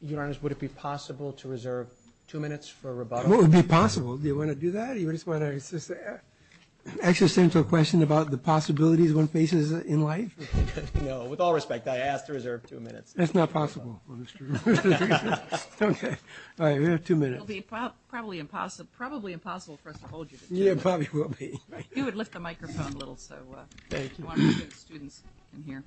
Your Honor, would it be possible to reserve two minutes for rebuttal? What would be possible? Do you want to do that? You just want to ask a simple question about the possibilities one faces in life? No. With all respect, I ask to reserve two minutes. That's not possible. Okay. All right. We have two minutes. It will be probably impossible for us to hold you. Yeah, it probably will be. You would lift the microphone a little so students can hear.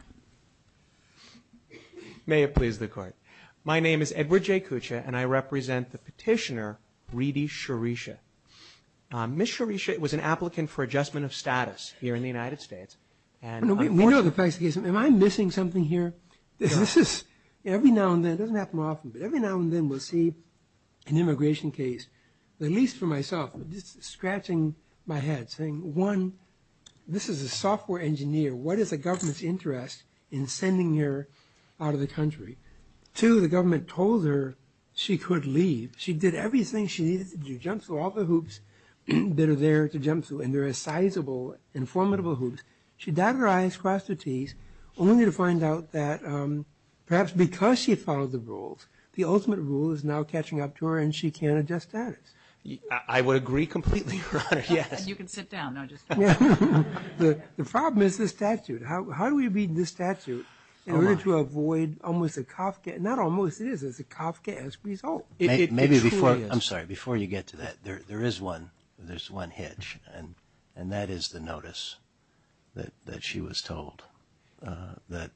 May it please the Court. My name is Edward J. Kucha, and I represent the petitioner, Reedy Shireesha. Ms. Shireesha was an applicant for adjustment of status here in the United States. Am I missing something here? This is every now and then. It doesn't happen often, but every now and then we'll see an immigration case, at least for myself, scratching my head, saying, one, this is a software engineer. What is the government's interest in sending her out of the country? Two, the government told her she could leave. She did everything she needed to do. She jumped through all the hoops that are there to jump through, and there are sizable and formidable hoops. She dabbed her eyes, crossed her teeth, only to find out that perhaps because she had followed the rules, the ultimate rule is now catching up to her, and she can't adjust status. I would agree completely, Your Honor, yes. You can sit down. The problem is the statute. How do we read the statute in order to avoid almost a cough, not almost, it is a cough as a result. I'm sorry, before you get to that, there is one hitch, and that is the notice that she was told that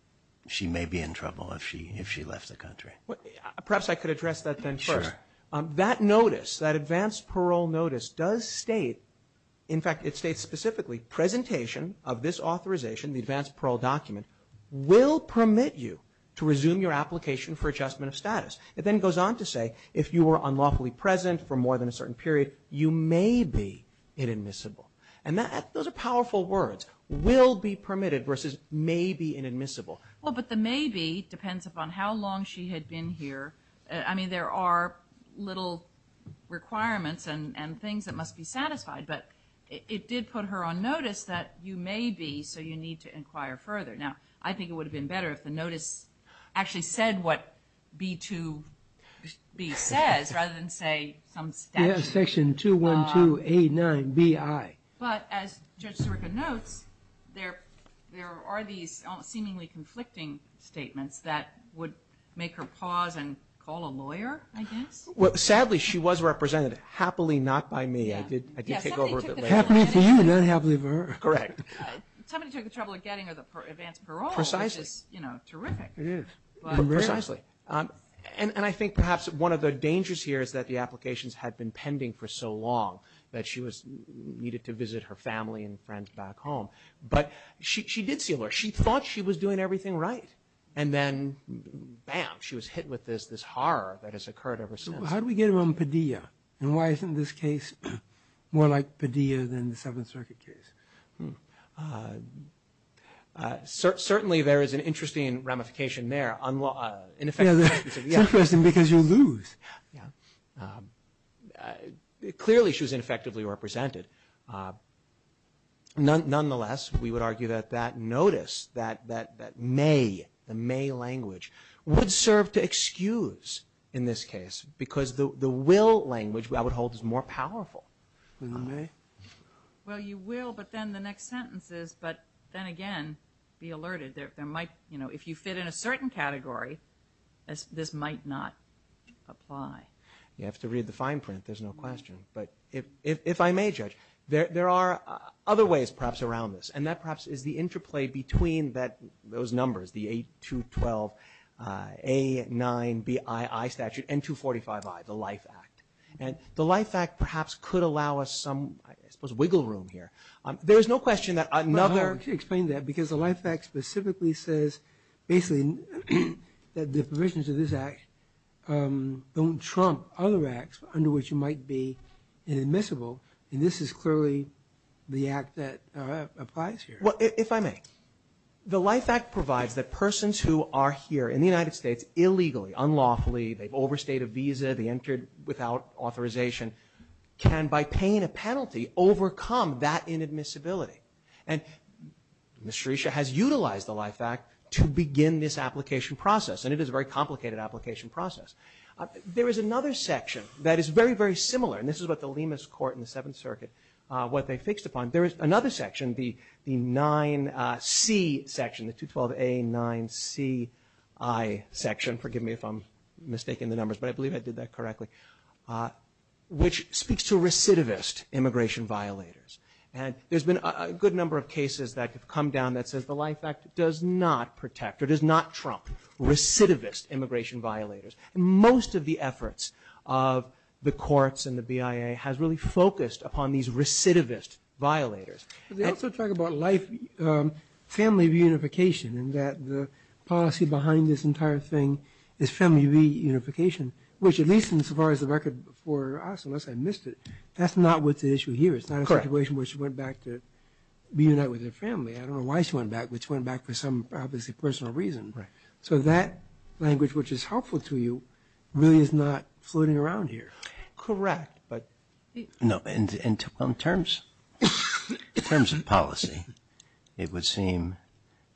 she may be in trouble if she left the country. Perhaps I could address that then first. That notice, that advanced parole notice, does state, in fact, it states specifically, presentation of this authorization, the advanced parole document, will permit you to resume your application for adjustment of status. It then goes on to say if you were unlawfully present for more than a certain period, you may be inadmissible. And those are powerful words, will be permitted versus may be inadmissible. Well, but the may be depends upon how long she had been here. I mean, there are little requirements and things that must be satisfied, but it did put her on notice that you may be, so you need to inquire further. Now, I think it would have been better if the notice actually said what B2B says, rather than say some statute. Section 212A9BI. But as Judge Sirica notes, there are these seemingly conflicting statements that would make her pause and call a lawyer, I guess. Well, sadly, she was represented happily not by me. I did take over a bit later. Happily for you, not happily for her. Correct. Somebody took the trouble of getting her the advanced parole, which is terrific. It is. Precisely. And I think perhaps one of the dangers here is that the applications had been pending for so long that she needed to visit her family and friends back home. But she did see a lawyer. She thought she was doing everything right. And then, bam, she was hit with this horror that has occurred ever since. How do we get around Padilla? And why isn't this case more like Padilla than the Seventh Circuit case? Certainly, there is an interesting ramification there. Yeah, it's interesting because you lose. Clearly, she was ineffectively represented. Nonetheless, we would argue that that notice, that may, the may language, would serve to excuse in this case because the will language, I would hold, is more powerful. Well, you will, but then the next sentence is, but then again, be alerted. If you fit in a certain category, this might not apply. You have to read the fine print. There's no question. But if I may, Judge, there are other ways perhaps around this, and that perhaps is the interplay between those numbers, the 8212A9BII statute and 245I, the LIFE Act. And the LIFE Act perhaps could allow us some, I suppose, wiggle room here. There is no question that another – I can explain that because the LIFE Act specifically says, basically, that the provisions of this act don't trump other acts under which you might be inadmissible, and this is clearly the act that applies here. Well, if I may, the LIFE Act provides that persons who are here in the United States illegally, unlawfully, they've overstayed a visa, they entered without authorization, can, by paying a penalty, overcome that inadmissibility. And Ms. Sherisha has utilized the LIFE Act to begin this application process, and it is a very complicated application process. There is another section that is very, very similar, and this is what the Lima's court in the Seventh Circuit, what they fixed upon. There is another section, the 9C section, the 2212A9CI section, forgive me if I'm mistaking the numbers, but I believe I did that correctly, which speaks to recidivist immigration violators. And there's been a good number of cases that have come down that says the LIFE Act does not protect or does not trump recidivist immigration violators. Most of the efforts of the courts and the BIA has really focused upon these recidivist violators. They also talk about LIFE family reunification, and that the policy behind this entire thing is family reunification, which at least as far as the record for us, unless I missed it, that's not what the issue here is. It's not a situation where she went back to reunite with her family. I don't know why she went back, but she went back for some, obviously, personal reason. So that language, which is helpful to you, really is not floating around here. Correct. No, in terms of policy, it would seem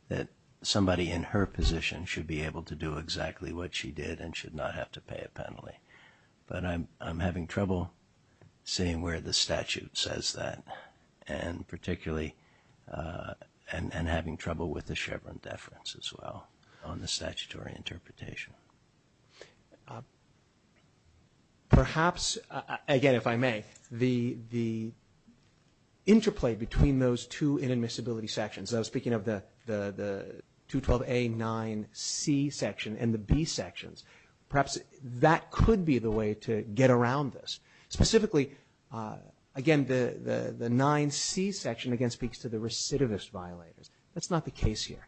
that somebody in her position should be able to do exactly what she did and should not have to pay a penalty. But I'm having trouble seeing where the statute says that, and particularly having trouble with the Chevron deference as well on the statutory interpretation. Perhaps, again, if I may, the interplay between those two inadmissibility sections, I was speaking of the 212A9C section and the B sections, perhaps that could be the way to get around this. Specifically, again, the 9C section again speaks to the recidivist violators. That's not the case here.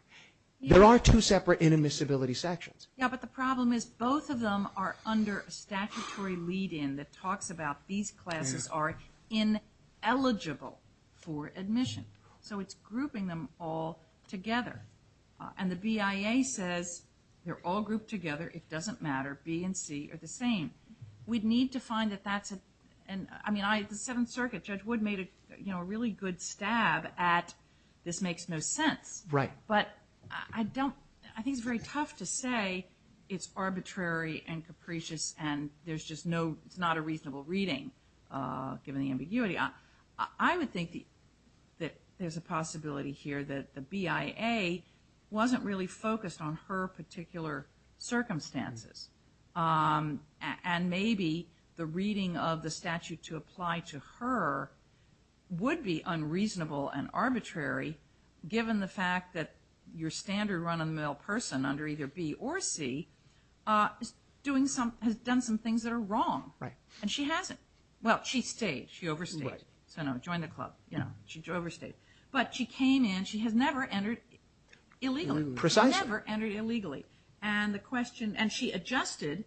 There are two separate inadmissibility sections. Yeah, but the problem is both of them are under a statutory lead-in that talks about these classes are ineligible for admission. So it's grouping them all together. And the BIA says they're all grouped together, it doesn't matter, B and C are the same. We'd need to find that that's a, I mean, the Seventh Circuit, Judge Wood made a really good stab at this makes no sense. Right. But I don't, I think it's very tough to say it's arbitrary and capricious and there's just no, it's not a reasonable reading given the ambiguity. I would think that there's a possibility here that the BIA wasn't really focused on her particular circumstances. And maybe the reading of the statute to apply to her would be unreasonable and arbitrary given the fact that your standard run-of-the-mill person under either B or C has done some things that are wrong. Right. And she hasn't. Well, she stayed, she overstayed. Right. So no, joined the club, you know, she overstayed. But she came in, she has never entered illegally. Precisely. And the question, and she adjusted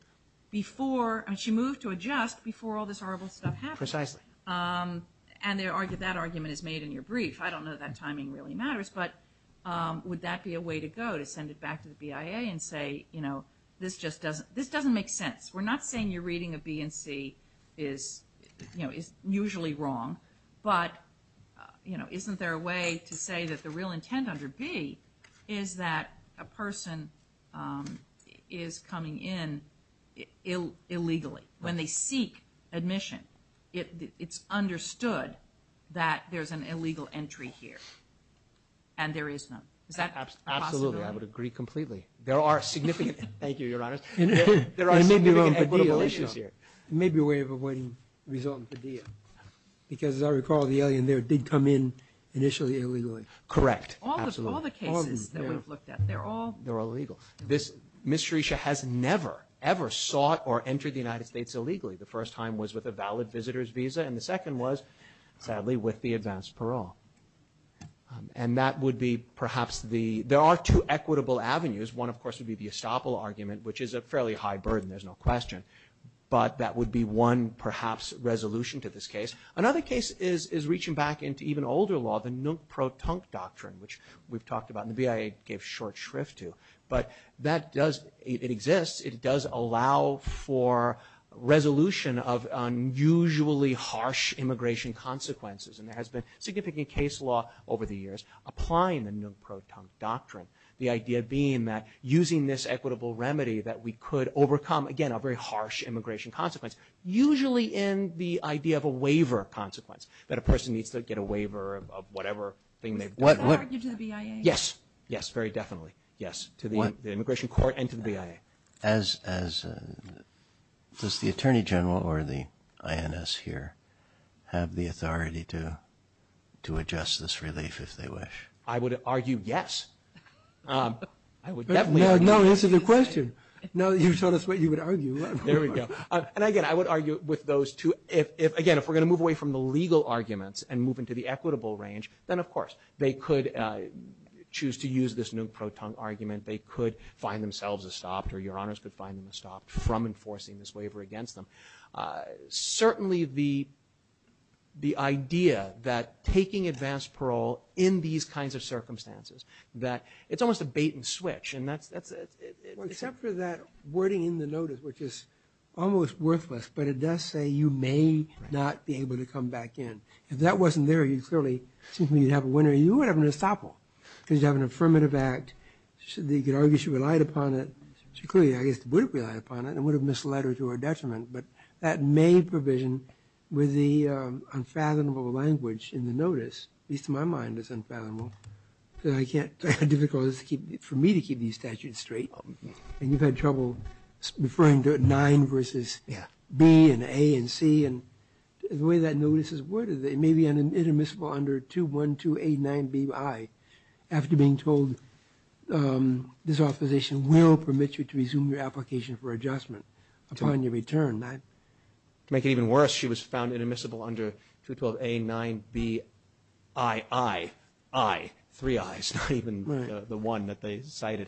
before, I mean, she moved to adjust before all this horrible stuff happened. Precisely. And that argument is made in your brief. I don't know if that timing really matters, but would that be a way to go to send it back to the BIA and say, you know, this just doesn't, this doesn't make sense. We're not saying your reading of B and C is, you know, is usually wrong, but, you know, isn't there a way to say that the real intent under B is that a person is coming in illegally when they seek admission? It's understood that there's an illegal entry here, and there is none. Is that possible? Absolutely. I would agree completely. There are significant – Thank you, Your Honor. There are significant equitable issues here. It may be a way of avoiding resulting in a DIA, because as I recall the alien there did come in initially illegally. Correct. All the cases that we've looked at, they're all – They're all illegal. Ms. Sherisha has never, ever sought or entered the United States illegally. The first time was with a valid visitor's visa, and the second was, sadly, with the advanced parole. And that would be perhaps the – there are two equitable avenues. One, of course, would be the estoppel argument, which is a fairly high burden, there's no question. But that would be one, perhaps, resolution to this case. Another case is reaching back into even older law, the Nuk-Pro-Tunk Doctrine, which we've talked about and the BIA gave short shrift to. But that does – it exists. It does allow for resolution of unusually harsh immigration consequences. And there has been significant case law over the years applying the Nuk-Pro-Tunk Doctrine, the idea being that using this equitable remedy that we could overcome, again, a very harsh immigration consequence, usually in the idea of a waiver consequence, that a person needs to get a waiver of whatever thing they've done. Does that argue to the BIA? Yes. Yes, very definitely. Yes, to the immigration court and to the BIA. As – does the attorney general or the INS here have the authority to adjust this relief if they wish? I would argue yes. I would definitely argue yes. No, answer the question. No, you told us what you would argue. There we go. And, again, I would argue with those two. Again, if we're going to move away from the legal arguments and move into the equitable range, then, of course, they could choose to use this Nuk-Pro-Tunk argument. They could find themselves estopped or your honors could find them estopped from enforcing this waiver against them. Certainly the idea that taking advanced parole in these kinds of circumstances, that it's almost a bait and switch. Except for that wording in the notice, which is almost worthless, but it does say you may not be able to come back in. If that wasn't there, you clearly – you'd have a winner. You would have an estoppel because you'd have an affirmative act. You could argue she relied upon it. She clearly, I guess, would have relied upon it and would have misled her to her detriment. But that may provision with the unfathomable language in the notice, at least to my mind, is unfathomable. I can't – I have difficulties for me to keep these statutes straight. And you've had trouble referring to 9 versus B and A and C. And the way that notice is worded, it may be inadmissible under 212A9BI after being told this authorization will permit you to resume your application for adjustment upon your return. To make it even worse, she was found inadmissible under 212A9BII. Three I's, not even the one that they cited.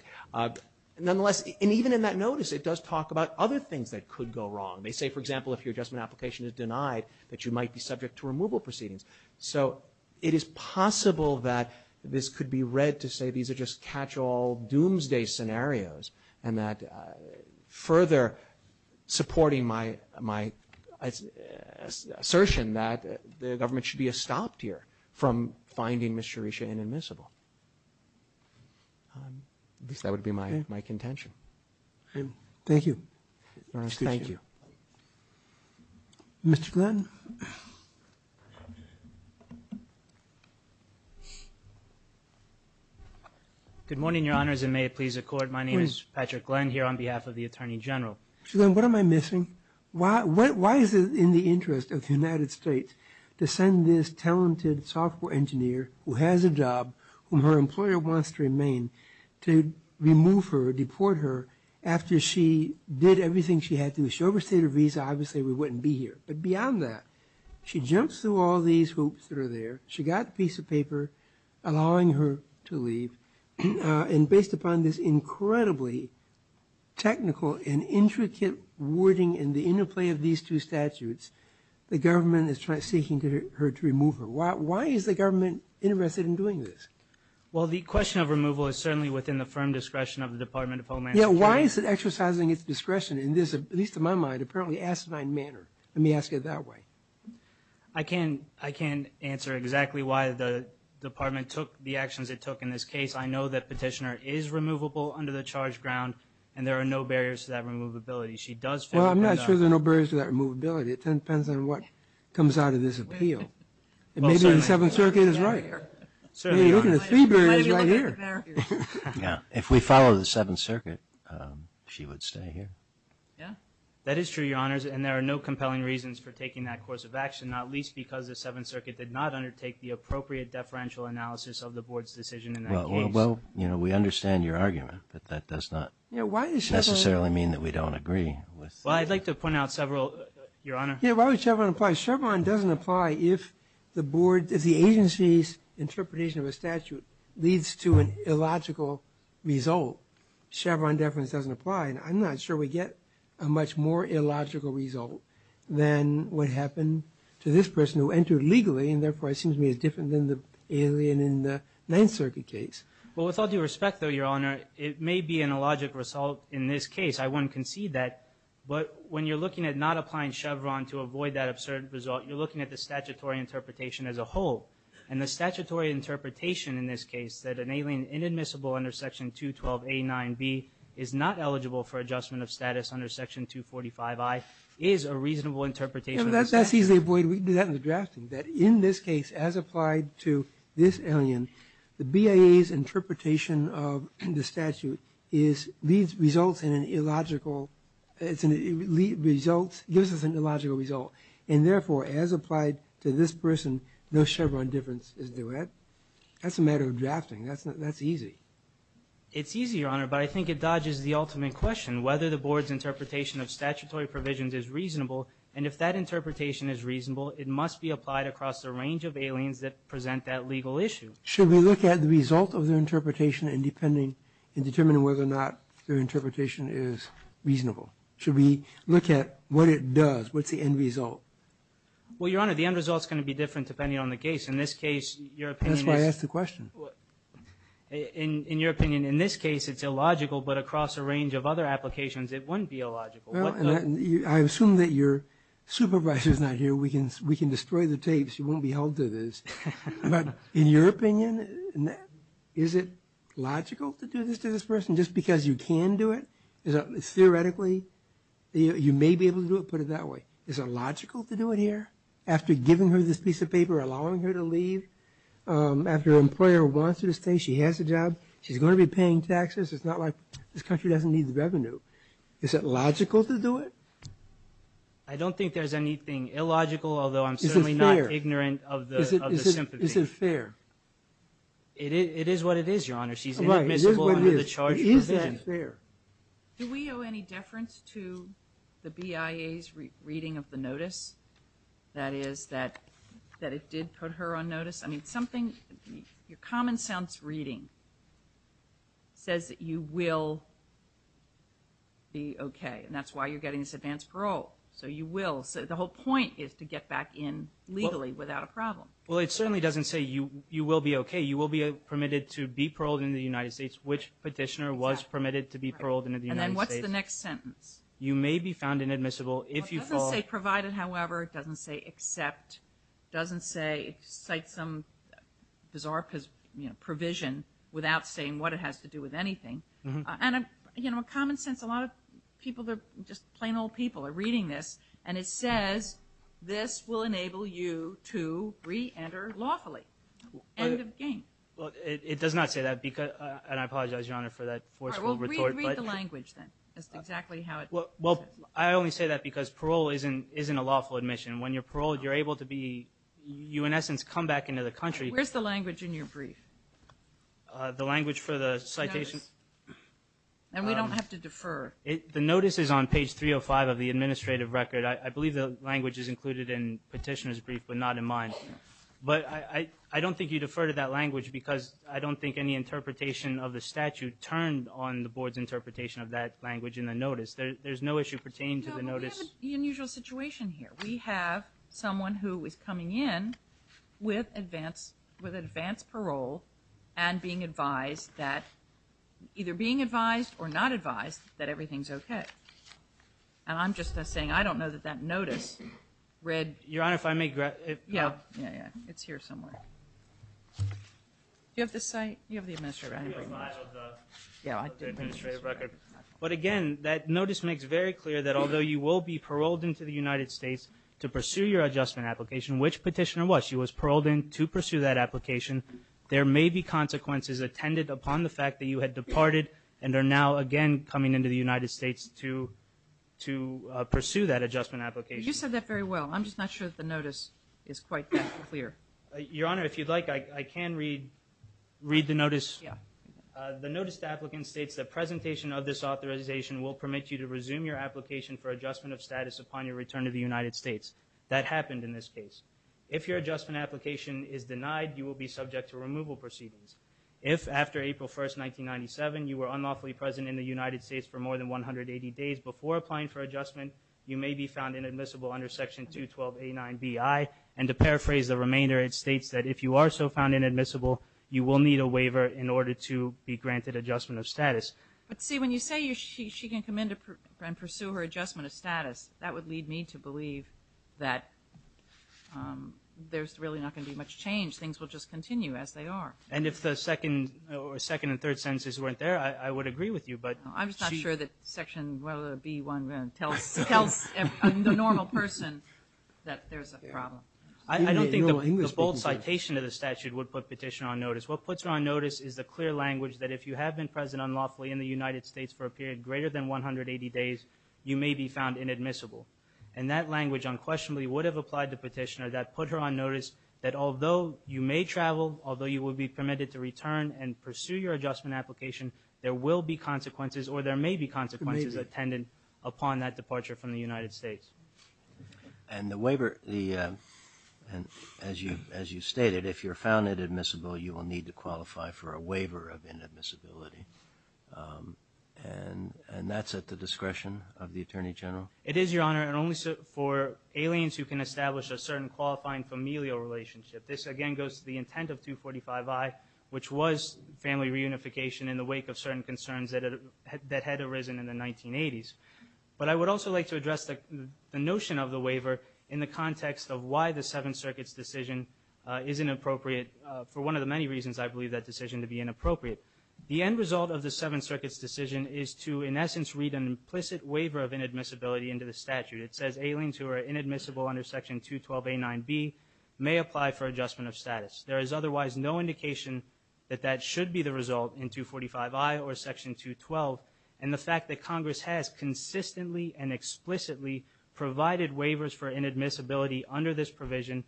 Nonetheless, and even in that notice, it does talk about other things that could go wrong. They say, for example, if your adjustment application is denied, that you might be subject to removal proceedings. So it is possible that this could be read to say these are just catch-all doomsday scenarios and that further supporting my assertion that the government should be stopped here from finding Ms. Cherisha inadmissible. At least that would be my contention. Thank you. Thank you. Mr. Glenn. Good morning, Your Honors, and may it please the Court, my name is Patrick Glenn here on behalf of the Attorney General. What am I missing? Why is it in the interest of the United States to send this talented software engineer who has a job, whom her employer wants to remain, to remove her or deport her after she did everything she had to do? She overstayed her visa, obviously we wouldn't be here. But beyond that, she jumps through all these hoops that are there, she got a piece of paper allowing her to leave, and based upon this incredibly technical and intricate wording and the interplay of these two statutes, the government is seeking her to remove her. Why is the government interested in doing this? Well, the question of removal is certainly within the firm discretion of the Department of Homeland Security. Yeah, why is it exercising its discretion in this, at least in my mind, apparently asinine manner? Let me ask it that way. I can't answer exactly why the department took the actions it took in this case. I know that Petitioner is removable under the charge ground and there are no barriers to that removability. She does fit that. Well, I'm not sure there are no barriers to that removability. It depends on what comes out of this appeal. Maybe the Seventh Circuit is right. You're looking at three barriers right here. Yeah, if we follow the Seventh Circuit, she would stay here. Yeah, that is true, Your Honors, and there are no compelling reasons for taking that course of action, not least because the Seventh Circuit did not undertake the appropriate deferential analysis of the Board's decision in that case. Well, you know, we understand your argument, but that does not necessarily mean that we don't agree. Well, I'd like to point out several, Your Honor. Yeah, why would Chevron apply? Chevron doesn't apply if the agency's interpretation of a statute leads to an illogical result. Chevron deference doesn't apply. And I'm not sure we get a much more illogical result than what happened to this person who entered legally and therefore seems to be different than the alien in the Ninth Circuit case. Well, with all due respect, though, Your Honor, it may be an illogical result in this case. I wouldn't concede that. But when you're looking at not applying Chevron to avoid that absurd result, you're looking at the statutory interpretation as a whole. And the statutory interpretation in this case, that an alien inadmissible under Section 212A9B is not eligible for adjustment of status under Section 245I, is a reasonable interpretation of the statute. Yeah, but that's easily avoided. We can do that in the drafting. That in this case, as applied to this alien, the BIA's interpretation of the statute leads results in an illogical – gives us an illogical result. And therefore, as applied to this person, no Chevron difference is due. That's a matter of drafting. That's easy. It's easy, Your Honor, but I think it dodges the ultimate question, whether the Board's interpretation of statutory provisions is reasonable. And if that interpretation is reasonable, it must be applied across a range of aliens that present that legal issue. Should we look at the result of their interpretation in determining whether or not their interpretation is reasonable? Should we look at what it does? What's the end result? Well, Your Honor, the end result is going to be different depending on the case. In this case, your opinion is – That's why I asked the question. In your opinion, in this case it's illogical, but across a range of other applications it wouldn't be illogical. I assume that your supervisor's not here. We can destroy the tapes. You won't be held to this. But in your opinion, is it logical to do this to this person just because you can do it? Theoretically, you may be able to do it, put it that way. Is it logical to do it here? After giving her this piece of paper, allowing her to leave? After an employer wants her to stay, she has a job. She's going to be paying taxes. It's not like this country doesn't need the revenue. Is it logical to do it? I don't think there's anything illogical, although I'm certainly not ignorant of the sympathy. Is it fair? It is what it is, Your Honor. She's inadmissible under the charge of provision. Do we owe any deference to the BIA's reading of the notice, that is, that it did put her on notice? I mean, your common sense reading says that you will be okay, and that's why you're getting this advanced parole. So you will. The whole point is to get back in legally without a problem. Well, it certainly doesn't say you will be okay. You will be permitted to be paroled in the United States, which petitioner was permitted to be paroled in the United States. And then what's the next sentence? You may be found inadmissible if you fall. It doesn't say provided, however. It doesn't say except. It doesn't say it cites some bizarre provision without saying what it has to do with anything. And, you know, common sense, a lot of people, just plain old people are reading this, and it says this will enable you to re-enter lawfully. End of game. It does not say that, and I apologize, Your Honor, for that forceful retort. Read the language then. That's exactly how it says. I only say that because parole isn't a lawful admission. When you're paroled, you're able to be you, in essence, come back into the country. Where's the language in your brief? The language for the citation. And we don't have to defer. The notice is on page 305 of the administrative record. I believe the language is included in petitioner's brief, but not in mine. But I don't think you defer to that language because I don't think any interpretation of the statute turned on the board's interpretation of that language in the notice. There's no issue pertaining to the notice. No, we have an unusual situation here. We have someone who is coming in with advance parole and being advised that either being advised or not advised that everything's okay. And I'm just saying I don't know that that notice read. Your Honor, if I may. Yeah, yeah, yeah. It's here somewhere. Do you have the site? You have the administrative record. Yeah, I do have the administrative record. But, again, that notice makes very clear that although you will be paroled into the United States to pursue your adjustment application, which petitioner was? She was paroled in to pursue that application. There may be consequences attended upon the fact that you had departed and are now again coming into the United States to pursue that adjustment application. You said that very well. I'm just not sure that the notice is quite that clear. Your Honor, if you'd like, I can read the notice. Yeah. The notice to applicants states that presentation of this authorization will permit you to resume your application for adjustment of status upon your return to the United States. That happened in this case. If your adjustment application is denied, you will be subject to removal proceedings. If after April 1, 1997, you were unlawfully present in the United States for more than 180 days before applying for adjustment, you may be found inadmissible under Section 212A9Bi. And to paraphrase the remainder, it states that if you are so found inadmissible, you will need a waiver in order to be granted adjustment of status. But, see, when you say she can come in and pursue her adjustment of status, that would lead me to believe that there's really not going to be much change. Things will just continue as they are. And if the second and third sentences weren't there, I would agree with you. I'm just not sure that Section B1 tells the normal person that there's a problem. I don't think the bold citation of the statute would put Petitioner on notice. What puts her on notice is the clear language that if you have been present unlawfully in the United States for a period greater than 180 days, you may be found inadmissible. And that language unquestionably would have applied to Petitioner, that put her on notice that although you may travel, although you will be permitted to return and pursue your adjustment application, there will be consequences, or there may be consequences, attendant upon that departure from the United States. And the waiver, as you stated, if you're found inadmissible, you will need to qualify for a waiver of inadmissibility. And that's at the discretion of the Attorney General? It is, Your Honor, and only for aliens who can establish a certain qualifying familial relationship. This again goes to the intent of 245I, which was family reunification in the wake of certain concerns that had arisen in the 1980s. But I would also like to address the notion of the waiver in the context of why the Seventh Circuit's decision is inappropriate. For one of the many reasons I believe that decision to be inappropriate. The end result of the Seventh Circuit's decision is to, in essence, read an implicit waiver of inadmissibility into the statute. It says aliens who are inadmissible under Section 212A9B may apply for adjustment of status. There is otherwise no indication that that should be the result in 245I or Section 212. And the fact that Congress has consistently and explicitly provided waivers for inadmissibility under this provision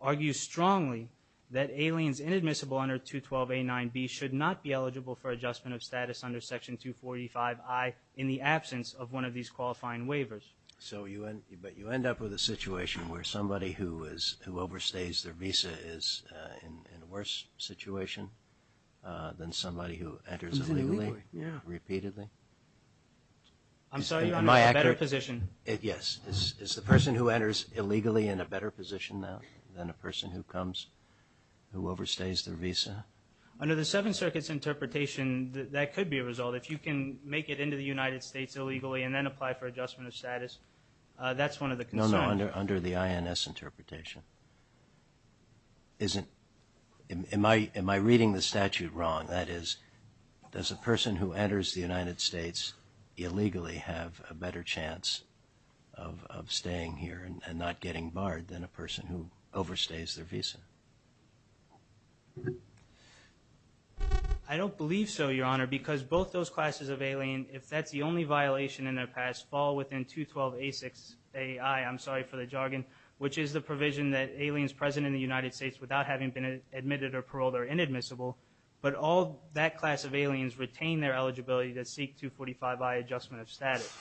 argues strongly that aliens inadmissible under 212A9B should not be eligible for adjustment of status under Section 245I in the absence of one of these qualifying waivers. So you end up with a situation where somebody who overstays their visa is in a worse situation than somebody who enters illegally repeatedly? I'm sorry. You're in a better position. Yes. Is the person who enters illegally in a better position now than a person who comes who overstays their visa? Under the Seventh Circuit's interpretation, that could be a result. If you can make it into the United States illegally and then apply for adjustment of status, that's one of the concerns. No, no. Under the INS interpretation. Am I reading the statute wrong? That is, does a person who enters the United States illegally have a better chance of staying here and not getting barred than a person who overstays their visa? I don't believe so, Your Honor, because both those classes of alien, if that's the only violation in their past, fall within 212A6AI, I'm sorry for the jargon, which is the provision that aliens present in the United States without having been admitted or paroled are inadmissible, but all that class of aliens retain their eligibility to seek 245I adjustment of status.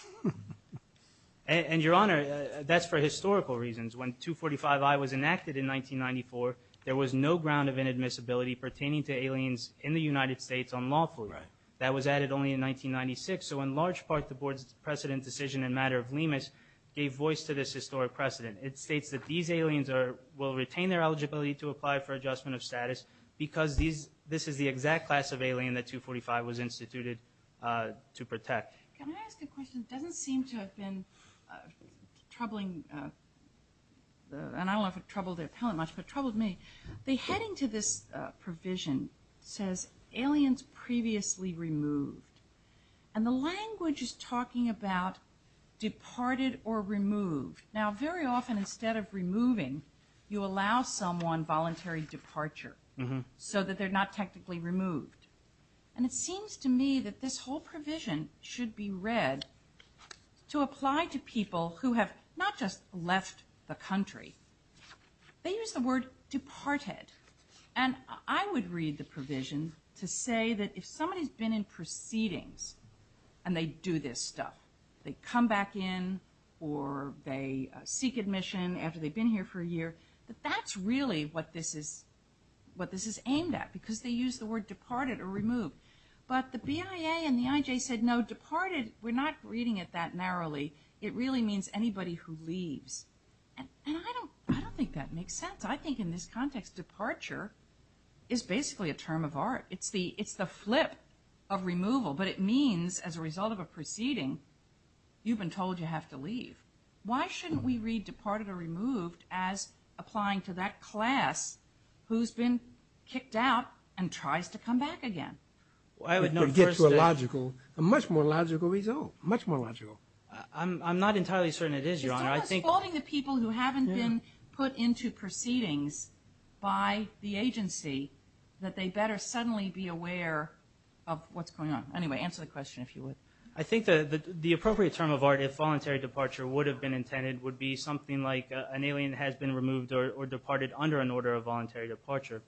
And, Your Honor, that's for historical reasons. When 245I was enacted in 1994, there was no ground of inadmissibility pertaining to aliens in the United States on lawful. That was added only in 1996. So in large part, the Board's precedent decision in the matter of Lemus gave voice to this historic precedent. It states that these aliens will retain their eligibility to apply for adjustment of status because this is the exact class of alien that 245 was instituted to protect. Can I ask a question? It doesn't seem to have been troubling, and I don't know if it troubled the appellant much, but it troubled me. The heading to this provision says, aliens previously removed. And the language is talking about departed or removed. Now, very often instead of removing, you allow someone voluntary departure so that they're not technically removed. And it seems to me that this whole provision should be read to apply to people who have not just left the country. They use the word departed. And I would read the provision to say that if somebody's been in proceedings and they do this stuff, they come back in or they seek admission after they've been here for a year, that that's really what this is aimed at, because they use the word departed or removed. But the BIA and the IJ said, no, departed, we're not reading it that narrowly. It really means anybody who leaves. And I don't think that makes sense. I think in this context, departure is basically a term of art. It's the flip of removal, but it means as a result of a proceeding, you've been told you have to leave. Why shouldn't we read departed or removed as applying to that class who's been kicked out and tries to come back again? It would get to a logical, a much more logical result. Much more logical. I'm not entirely certain it is, Your Honor. It's almost holding the people who haven't been put into proceedings by the agency that they better suddenly be aware of what's going on. Anyway, answer the question if you would. I think the appropriate term of art, if voluntary departure would have been intended, would be something like an alien has been removed or departed under an order of voluntary departure.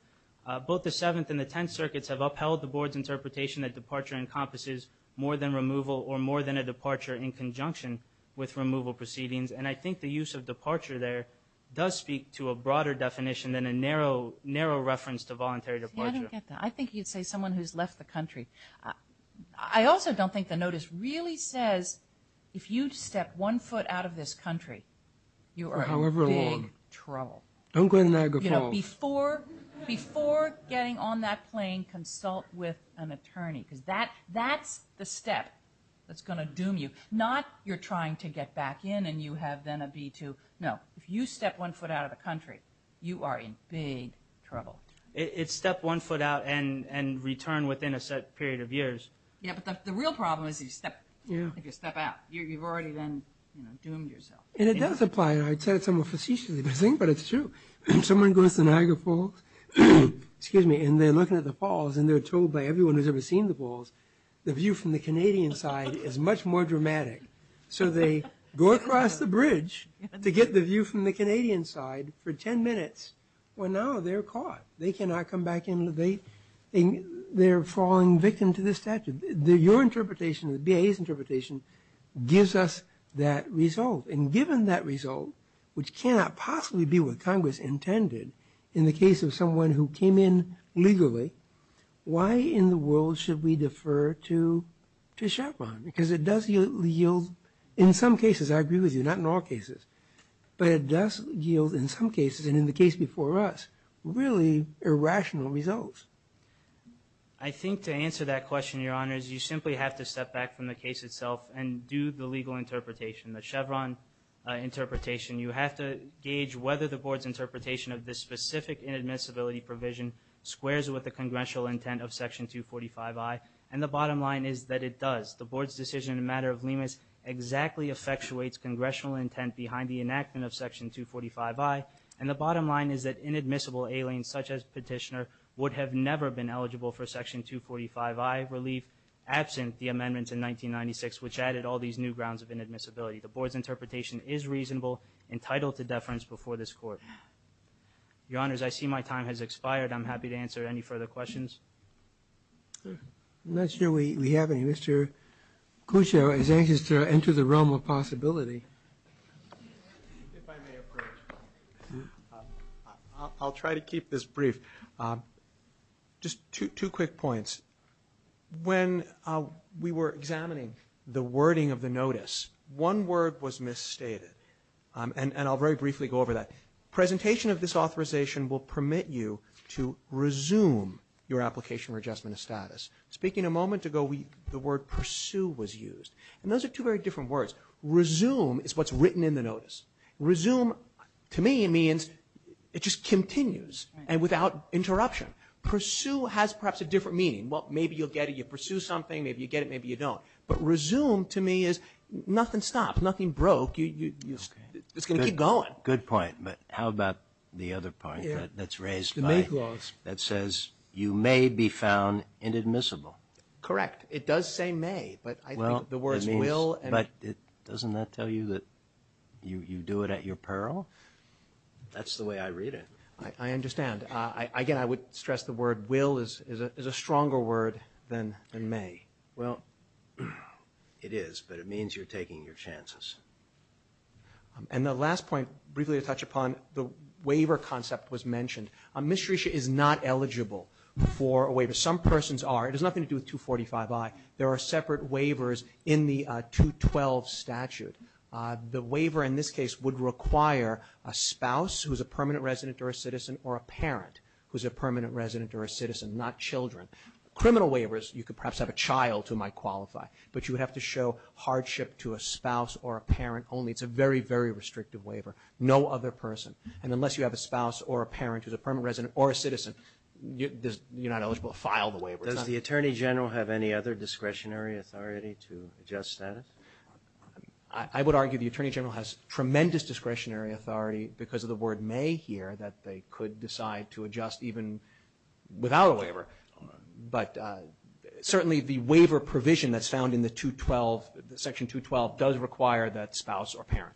Both the Seventh and the Tenth Circuits have upheld the Board's interpretation that departure encompasses more than removal or more than a departure in conjunction with removal proceedings. And I think the use of departure there does speak to a broader definition than a narrow reference to voluntary departure. See, I don't get that. I think you'd say someone who's left the country. I also don't think the notice really says if you step one foot out of this country, you are in big trouble. Don't go to Niagara Falls. You know, before getting on that plane, consult with an attorney because that's the step that's going to doom you. Not you're trying to get back in and you have then a B-2. No. If you step one foot out of the country, you are in big trouble. It's step one foot out and return within a set period of years. Yeah, but the real problem is if you step out. You've already then, you know, doomed yourself. And it does apply. I'd say it's a more facetious thing, but it's true. Someone goes to Niagara Falls, excuse me, and they're looking at the falls and they're told by everyone who's ever seen the falls, the view from the Canadian side is much more dramatic. So they go across the bridge to get the view from the Canadian side for 10 minutes. Well, now they're caught. They cannot come back in. They're falling victim to this statute. Your interpretation, the BIA's interpretation gives us that result. And given that result, which cannot possibly be what Congress intended in the case of someone who came in legally, why in the world should we defer to Chevron? Because it does yield, in some cases, I agree with you, not in all cases, but it does yield in some cases, and in the case before us, really irrational results. I think to answer that question, Your Honors, you simply have to step back from the case itself and do the legal interpretation, the Chevron interpretation. You have to gauge whether the board's interpretation of this specific inadmissibility provision squares with the congressional intent of Section 245I. And the bottom line is that it does. The board's decision in the matter of LEMAS exactly effectuates congressional intent behind the enactment of Section 245I. And the bottom line is that inadmissible aliens such as Petitioner would have never been eligible for Section 245I relief absent the amendments in 1996, which added all these new grounds of inadmissibility. The board's interpretation is reasonable, entitled to deference before this Court. Your Honors, I see my time has expired. I'm happy to answer any further questions. I'm not sure we have any. Mr. Cusher is anxious to enter the realm of possibility. If I may approach. I'll try to keep this brief. Just two quick points. When we were examining the wording of the notice, one word was misstated, and I'll very briefly go over that. Presentation of this authorization will permit you to resume your application for adjustment of status. Speaking a moment ago, the word pursue was used. And those are two very different words. Resume is what's written in the notice. Resume to me means it just continues and without interruption. Pursue has perhaps a different meaning. Well, maybe you'll get it. You pursue something. Maybe you get it. Maybe you don't. But resume to me is nothing stops, nothing broke. It's going to keep going. Good point. But how about the other point that's raised? The make laws. That says you may be found inadmissible. Correct. It does say may. But I think the words will. But doesn't that tell you that you do it at your peril? That's the way I read it. I understand. Again, I would stress the word will is a stronger word than may. Well, it is. But it means you're taking your chances. And the last point briefly to touch upon, the waiver concept was mentioned. Misterisha is not eligible for a waiver. Some persons are. It has nothing to do with 245i. There are separate waivers in the 212 statute. The waiver in this case would require a spouse who is a permanent resident or a citizen or a parent who is a permanent resident or a citizen, not children. Criminal waivers, you could perhaps have a child who might qualify. But you would have to show hardship to a spouse or a parent only. It's a very, very restrictive waiver. No other person. And unless you have a spouse or a parent who's a permanent resident or a citizen, you're not eligible to file the waiver. Does the Attorney General have any other discretionary authority to adjust status? I would argue the Attorney General has tremendous discretionary authority because of the word may here that they could decide to adjust even without a waiver. But certainly the waiver provision that's found in the section 212 does require that spouse or parent.